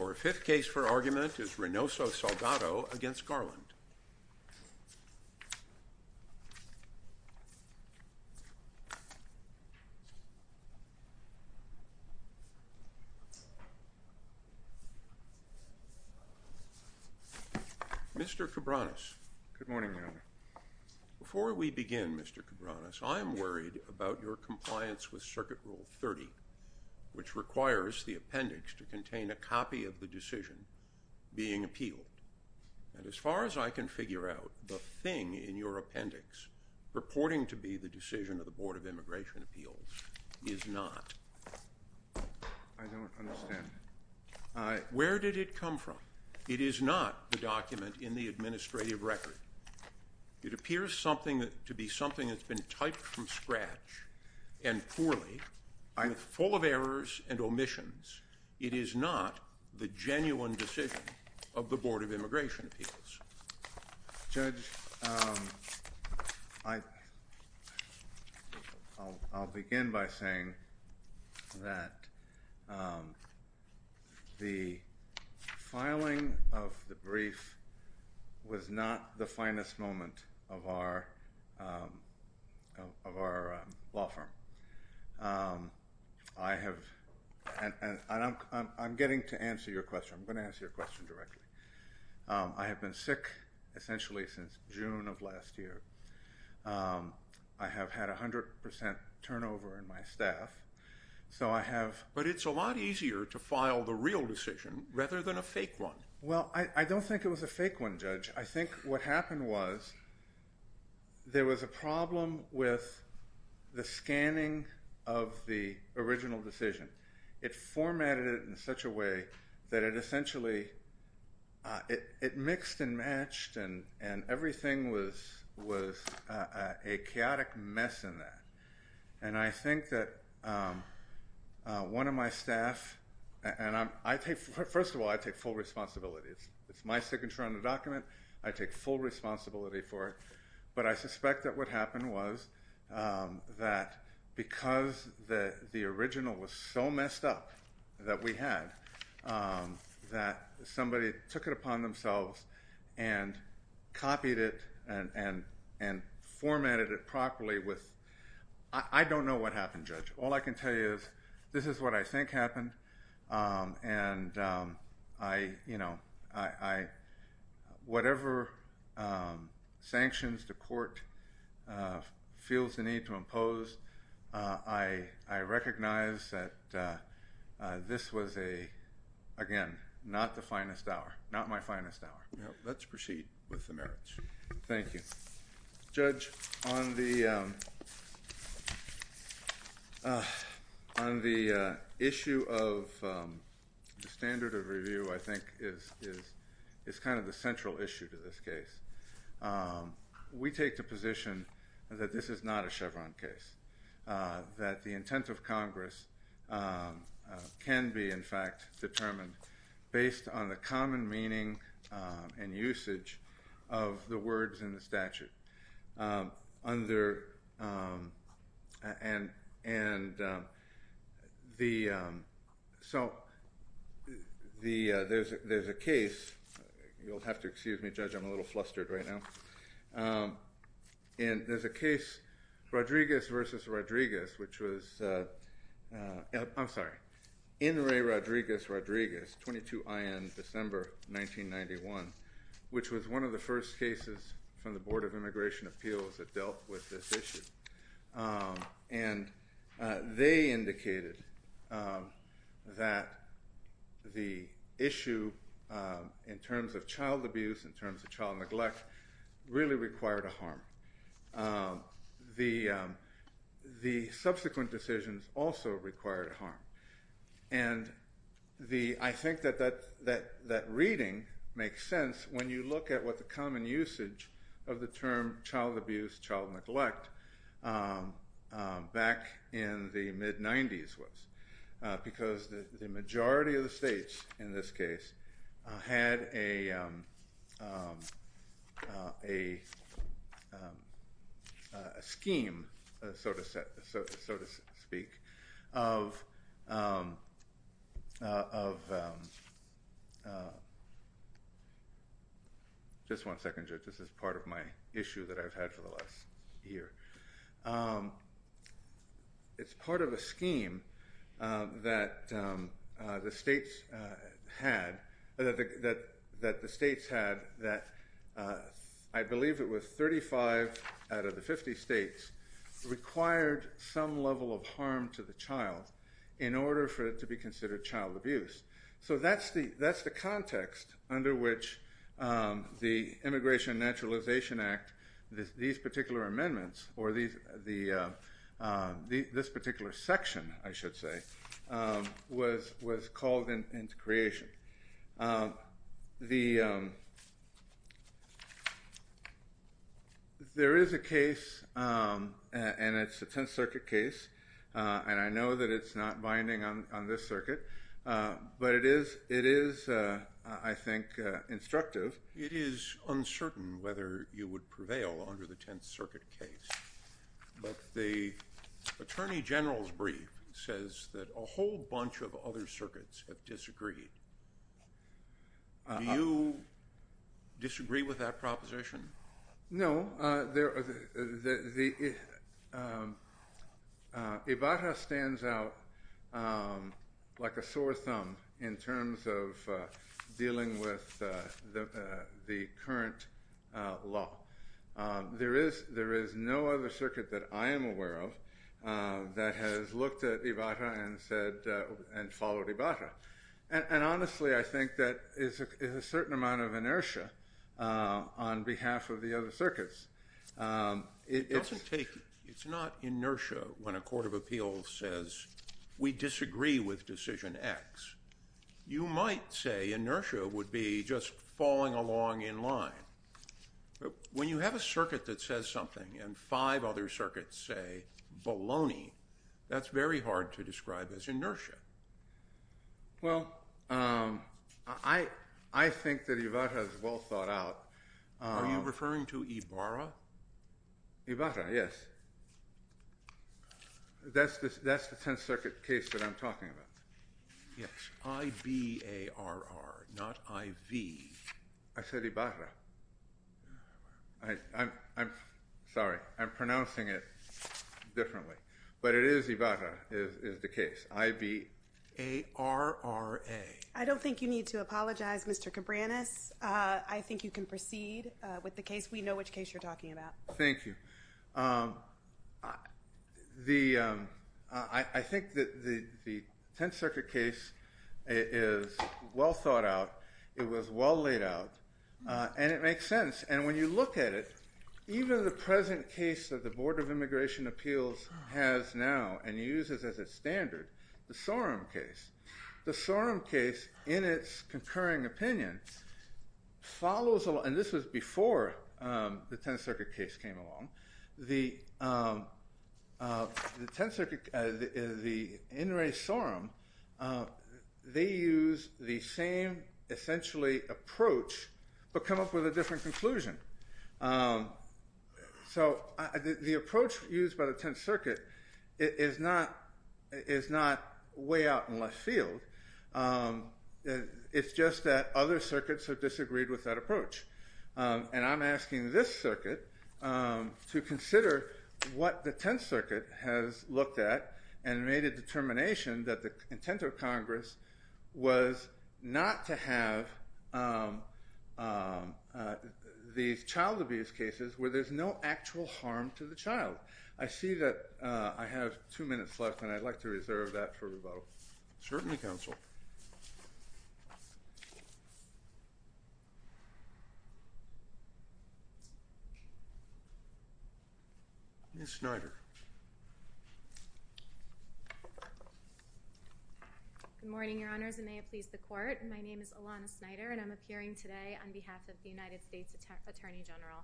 Our fifth case for argument is Reynoso-Salgado v. Garland. Mr. Cabranes. Good morning, Your Honor. Before we begin, Mr. Cabranes, I am worried about your compliance with Circuit Rule 30, which requires the appendix to contain a copy of the decision being appealed. And as far as I can figure out, the thing in your appendix purporting to be the decision of the Board of Immigration Appeals is not. I don't understand. Where did it come from? It is not the document in the administrative record. It appears to be something that's been typed from scratch and poorly, full of errors and omissions. It is not the genuine decision of the Board of Immigration Appeals. Judge, I'll begin by saying that the filing of the brief was not the finest moment of our law firm. I have—and I'm getting to answer your question. I'm going to answer your question directly. I have been sick essentially since June of last year. I have had 100 percent turnover in my staff, so I have— But it's a lot easier to file the real decision rather than a fake one. Well, I don't think it was a fake one, Judge. I think what happened was there was a problem with the scanning of the original decision. It formatted it in such a way that it essentially—it mixed and matched and everything was a chaotic mess in that. And I think that one of my staff—and I take—first of all, I take full responsibility. It's my signature on the document. I take full responsibility for it. But I suspect that what happened was that because the original was so messed up that we had, that somebody took it upon themselves and copied it and formatted it properly with—I don't know what happened, Judge. All I can tell you is this is what I think happened. And I—whatever sanctions the court feels the need to impose, I recognize that this was a—again, not the finest hour, not my finest hour. Let's proceed with the merits. Thank you. Judge, on the issue of the standard of review, I think is kind of the central issue to this case. We take the position that this is not a Chevron case, that the intent of Congress can be, in fact, determined based on the common meaning and usage of the words in the statute. Under—and the—so the—there's a case—you'll have to excuse me, Judge, I'm a little flustered right now. And there's a case, Rodriguez v. Rodriguez, which was—I'm sorry, Enri Rodriguez-Rodriguez, 22IN, December 1991, which was one of the first cases from the Board of Immigration Appeals that dealt with this issue. And they indicated that the issue in terms of child abuse, in terms of child neglect, really required a harm. The subsequent decisions also required a harm. And the—I think that that reading makes sense when you look at what the common usage of the term child abuse, child neglect, back in the mid-'90s was, because the majority of the states in this case had a scheme, so to speak, of—just one second, Judge, this is part of my issue that I've had for the last year—it's part of a scheme that the states had, that I believe it was 35 out of the 50 states required some level of harm to the child in order for it to be considered child abuse. So that's the context under which the Immigration and Naturalization Act, these particular amendments, or this particular section, I should say, was called into creation. There is a case, and it's a Tenth Circuit case, and I know that it's not binding on this circuit, but it is, I think, instructive. It is uncertain whether you would prevail under the Tenth Circuit case, but the Attorney General's brief says that a whole bunch of other circuits have disagreed. Do you disagree with that proposition? No. Ibarra stands out like a sore thumb in terms of dealing with the current law. There is no other circuit that I am aware of that has looked at Ibarra and followed Ibarra. And honestly, I think that is a certain amount of inertia on behalf of the other circuits. It doesn't take—it's not inertia when a court of appeals says, we disagree with decision X. You might say inertia would be just falling along in line. When you have a circuit that says something and five other circuits say baloney, that's very hard to describe as inertia. Well, I think that Ibarra is well thought out. Are you referring to Ibarra? Ibarra, yes. That's the Tenth Circuit case that I'm talking about. Yes, I-B-A-R-R, not I-V. I said Ibarra. I'm sorry. I'm pronouncing it differently. But it is Ibarra is the case, I-B-A-R-R-A. I don't think you need to apologize, Mr. Cabranes. I think you can proceed with the case. We know which case you're talking about. Thank you. I think that the Tenth Circuit case is well thought out. It was well laid out. And it makes sense. And when you look at it, even the present case that the Board of Immigration Appeals has now and uses as its standard, the Sorum case, the Sorum case, in its concurring opinion, follows along. And this was before the Tenth Circuit case came along. The Tenth Circuit, the in re Sorum, they use the same essentially approach but come up with a different conclusion. So the approach used by the Tenth Circuit is not way out in left field. It's just that other circuits have disagreed with that approach. And I'm asking this circuit to consider what the Tenth Circuit has looked at and made a determination that the intent of Congress was not to have these child abuse cases where there's no actual harm to the child. I see that I have two minutes left, and I'd like to reserve that for rebuttal. Certainly, Counsel. Ms. Snyder. Good morning, Your Honors, and may it please the Court. My name is Alana Snyder, and I'm appearing today on behalf of the United States Attorney General.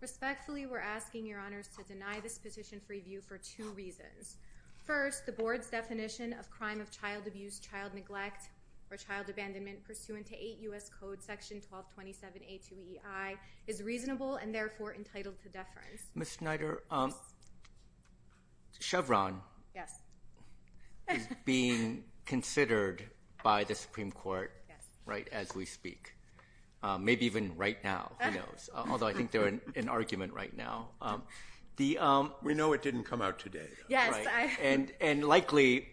Respectfully, we're asking Your Honors to deny this petition for review for two reasons. First, the Board's definition of crime of child abuse, child neglect, or child abandonment pursuant to 8 U.S. Code Section 1227A2EI is reasonable and therefore entitled to deference. Ms. Snyder, Chevron is being considered by the Supreme Court right as we speak. Maybe even right now. Who knows? Although I think they're in argument right now. We know it didn't come out today. Yes. And likely,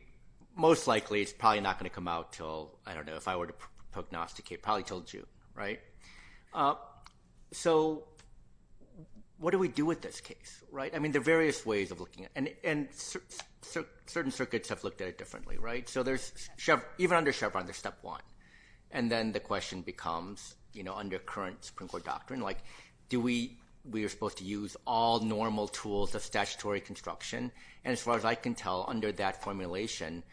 most likely, it's probably not going to come out until, I don't know, if I were to prognosticate, probably until June, right? So what do we do with this case, right? I mean, there are various ways of looking at it, and certain circuits have looked at it differently, right? So even under Chevron, there's step one. And then the question becomes, you know, under current Supreme Court doctrine, like, do we – we are supposed to use all normal tools of statutory construction? And as far as I can tell, under that formulation,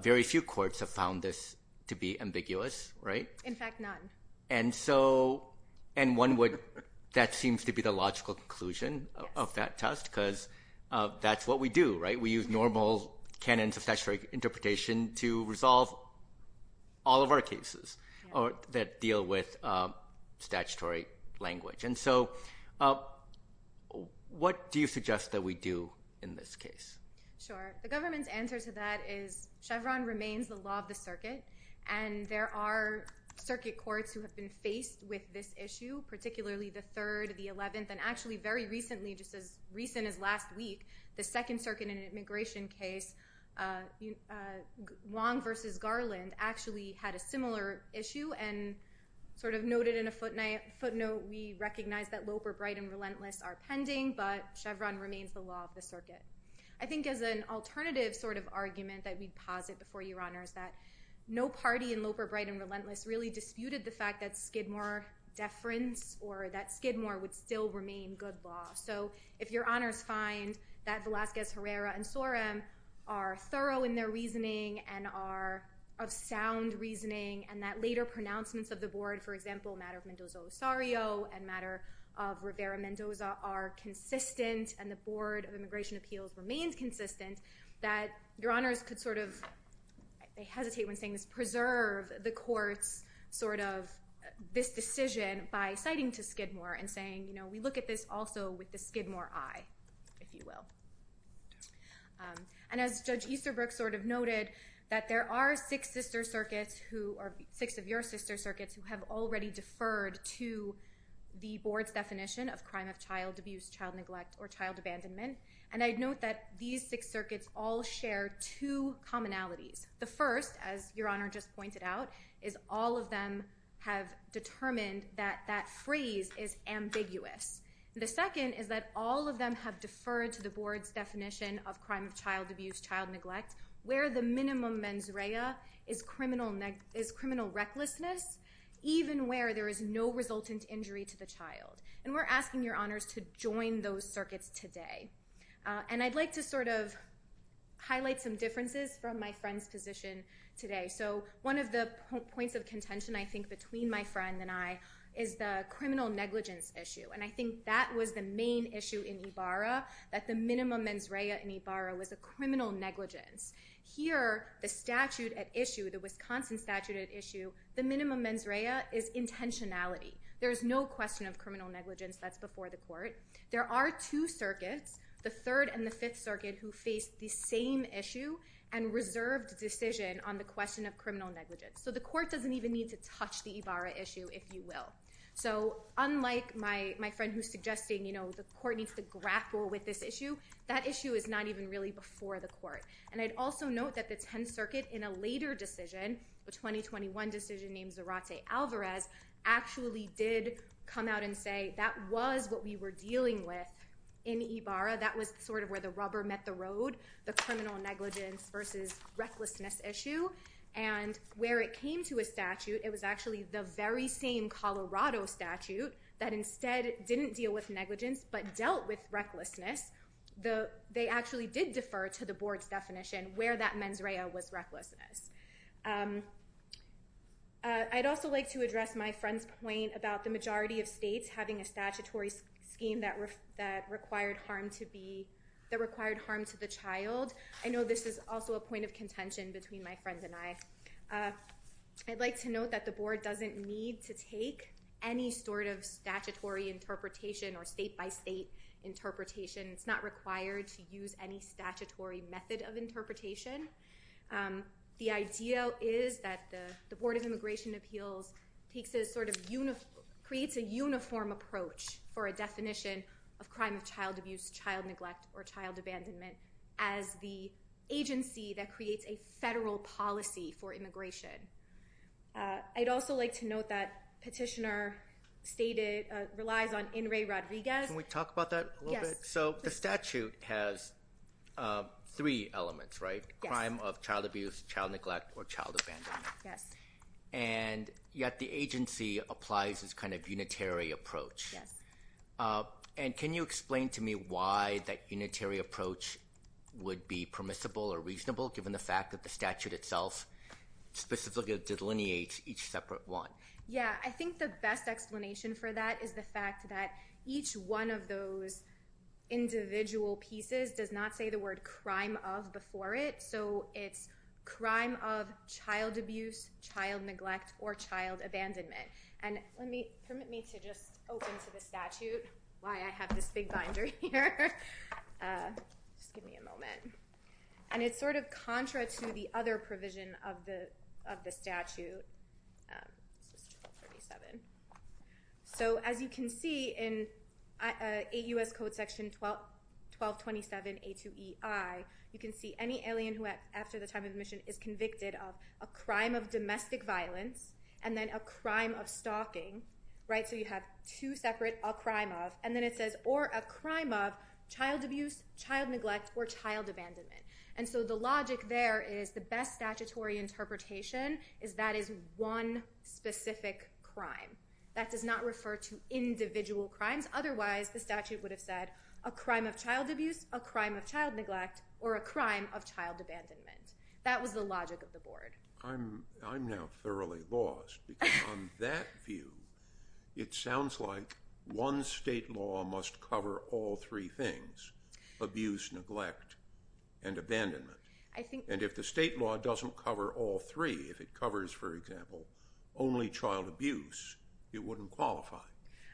very few courts have found this to be ambiguous, right? In fact, none. And so – and one would – that seems to be the logical conclusion of that test because that's what we do, right? We use normal canons of statutory interpretation to resolve all of our cases that deal with statutory language. And so what do you suggest that we do in this case? Sure. The government's answer to that is Chevron remains the law of the circuit, and there are circuit courts who have been faced with this issue, particularly the third, the eleventh, and actually very recently, just as recent as last week, the second circuit in an immigration case, Wong v. Garland, actually had a similar issue and sort of noted in a footnote, we recognize that Loper, Bright, and Relentless are pending, but Chevron remains the law of the circuit. I think as an alternative sort of argument that we'd posit before Your Honors that no party in Loper, Bright, and Relentless really disputed the fact that Skidmore deference or that Skidmore would still remain good law. So if Your Honors find that Velazquez, Herrera, and Sorum are thorough in their reasoning and are of sound reasoning and that later pronouncements of the board, for example, a matter of Mendoza-Osario and a matter of Rivera-Mendoza are consistent and the Board of Immigration Appeals remains consistent, that Your Honors could sort of, I hesitate when saying this, preserve the court's sort of this decision by citing to Skidmore and saying, you know, we look at this also with the Skidmore eye, if you will. And as Judge Easterbrook sort of noted, that there are six sister circuits who, or six of your sister circuits, who have already deferred to the board's definition of crime of child abuse, child neglect, or child abandonment. And I'd note that these six circuits all share two commonalities. The first, as Your Honor just pointed out, is all of them have determined that that phrase is ambiguous. The second is that all of them have deferred to the board's definition of crime of child abuse, child neglect, where the minimum mens rea is criminal recklessness, even where there is no resultant injury to the child. And we're asking Your Honors to join those circuits today. And I'd like to sort of highlight some differences from my friend's position today. So one of the points of contention, I think, between my friend and I is the criminal negligence issue. And I think that was the main issue in Ibarra, that the minimum mens rea in Ibarra was a criminal negligence. Here, the statute at issue, the Wisconsin statute at issue, the minimum mens rea is intentionality. There is no question of criminal negligence that's before the court. There are two circuits, the Third and the Fifth Circuit, who face the same issue and reserved decision on the question of criminal negligence. So the court doesn't even need to touch the Ibarra issue, if you will. So unlike my friend who's suggesting the court needs to grapple with this issue, that issue is not even really before the court. And I'd also note that the Tenth Circuit, in a later decision, a 2021 decision named Zarate-Alvarez, actually did come out and say that was what we were dealing with in Ibarra. That was sort of where the rubber met the road, the criminal negligence versus recklessness issue. And where it came to a statute, it was actually the very same Colorado statute that instead didn't deal with negligence but dealt with recklessness. They actually did defer to the board's definition where that mens rea was recklessness. I'd also like to address my friend's point about the majority of states having a statutory scheme that required harm to the child. I know this is also a point of contention between my friends and I. I'd like to note that the board doesn't need to take any sort of statutory interpretation or state-by-state interpretation. It's not required to use any statutory method of interpretation. The idea is that the Board of Immigration Appeals creates a uniform approach for a definition of crime of child abuse, child neglect, or child abandonment as the agency that creates a federal policy for immigration. I'd also like to note that Petitioner relies on Enri Rodriguez. Can we talk about that a little bit? Yes. So the statute has three elements, right? Crime of child abuse, child neglect, or child abandonment. Yes. And yet the agency applies this kind of unitary approach. Yes. And can you explain to me why that unitary approach would be permissible or reasonable given the fact that the statute itself specifically delineates each separate one? Yes. I think the best explanation for that is the fact that each one of those individual pieces does not say the word crime of before it. So it's crime of child abuse, child neglect, or child abandonment. And permit me to just open to the statute, why I have this big binder here. Just give me a moment. And it's sort of contra to the other provision of the statute. This is 1237. So as you can see in 8 U.S. Code section 1227A2EI, you can see any alien who, after the time of admission, is convicted of a crime of domestic violence and then a crime of stalking, right? So you have two separate a crime of. And then it says or a crime of child abuse, child neglect, or child abandonment. And so the logic there is the best statutory interpretation is that is one specific crime. That does not refer to individual crimes. Otherwise, the statute would have said a crime of child abuse, a crime of child neglect, or a crime of child abandonment. That was the logic of the board. I'm now thoroughly lost because on that view, it sounds like one state law must cover all three things, abuse, neglect, and abandonment. And if the state law doesn't cover all three, if it covers, for example, only child abuse, it wouldn't qualify.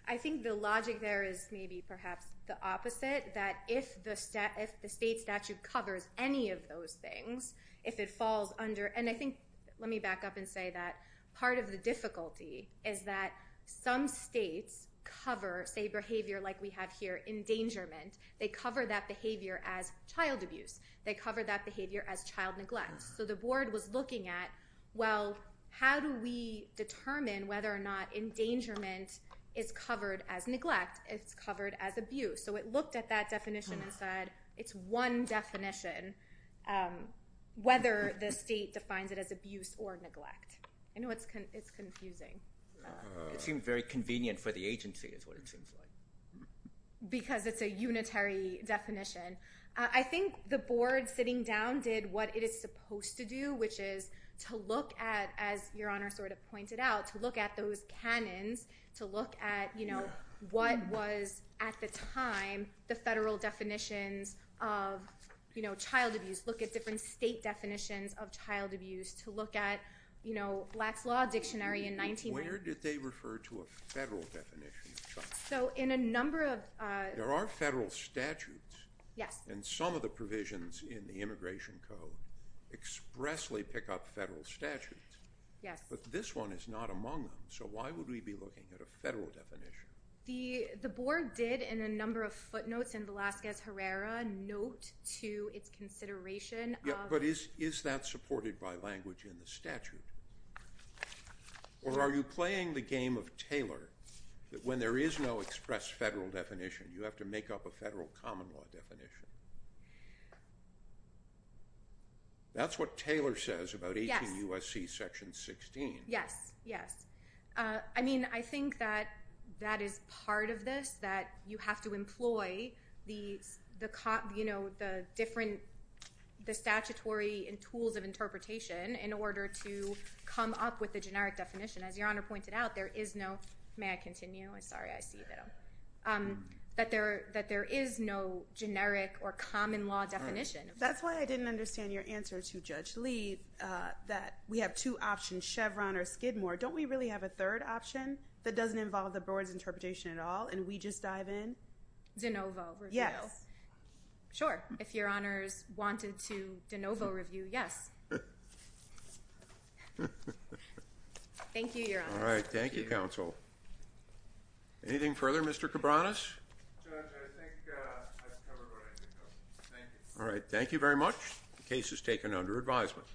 I think the logic there is maybe perhaps the opposite, that if the state statute covers any of those things, if it falls under, and I think, let me back up and say that part of the difficulty is that some states cover, say, behavior like we have here, endangerment, they cover that behavior as child abuse. They cover that behavior as child neglect. So the board was looking at, well, how do we determine whether or not endangerment is covered as neglect, if it's covered as abuse? So it looked at that definition and said it's one definition, whether the state defines it as abuse or neglect. I know it's confusing. It seems very convenient for the agency is what it seems like. Because it's a unitary definition. I think the board sitting down did what it is supposed to do, which is to look at, as Your Honor sort of pointed out, to look at those canons, to look at what was, at the time, the federal definitions of child abuse, look at different state definitions of child abuse, to look at Black's Law Dictionary in 19- Where did they refer to a federal definition of child abuse? So in a number of- There are federal statutes. Yes. And some of the provisions in the Immigration Code expressly pick up federal statutes. Yes. But this one is not among them. So why would we be looking at a federal definition? The board did, in a number of footnotes in Velazquez-Herrera, note to its consideration- Yeah, but is that supported by language in the statute? Or are you playing the game of Taylor, that when there is no express federal definition, you have to make up a federal common law definition? That's what Taylor says about 18 U.S.C. Section 16. Yes. Yes. I mean, I think that that is part of this, that you have to employ the different statutory tools of interpretation in order to come up with a generic definition. As Your Honor pointed out, there is no- May I continue? Sorry, I see that I'm- That there is no generic or common law definition. That's why I didn't understand your answer to Judge Lee, that we have two options, Chevron or Skidmore. Don't we really have a third option that doesn't involve the board's interpretation at all, and we just dive in? De novo review? Yes. Sure. If Your Honor's wanted to de novo review, yes. Thank you, Your Honor. All right. Thank you, counsel. Anything further, Mr. Cabranes? Judge, I think I've covered what I think of. Thank you. All right. Thank you very much. The case is taken under advisement.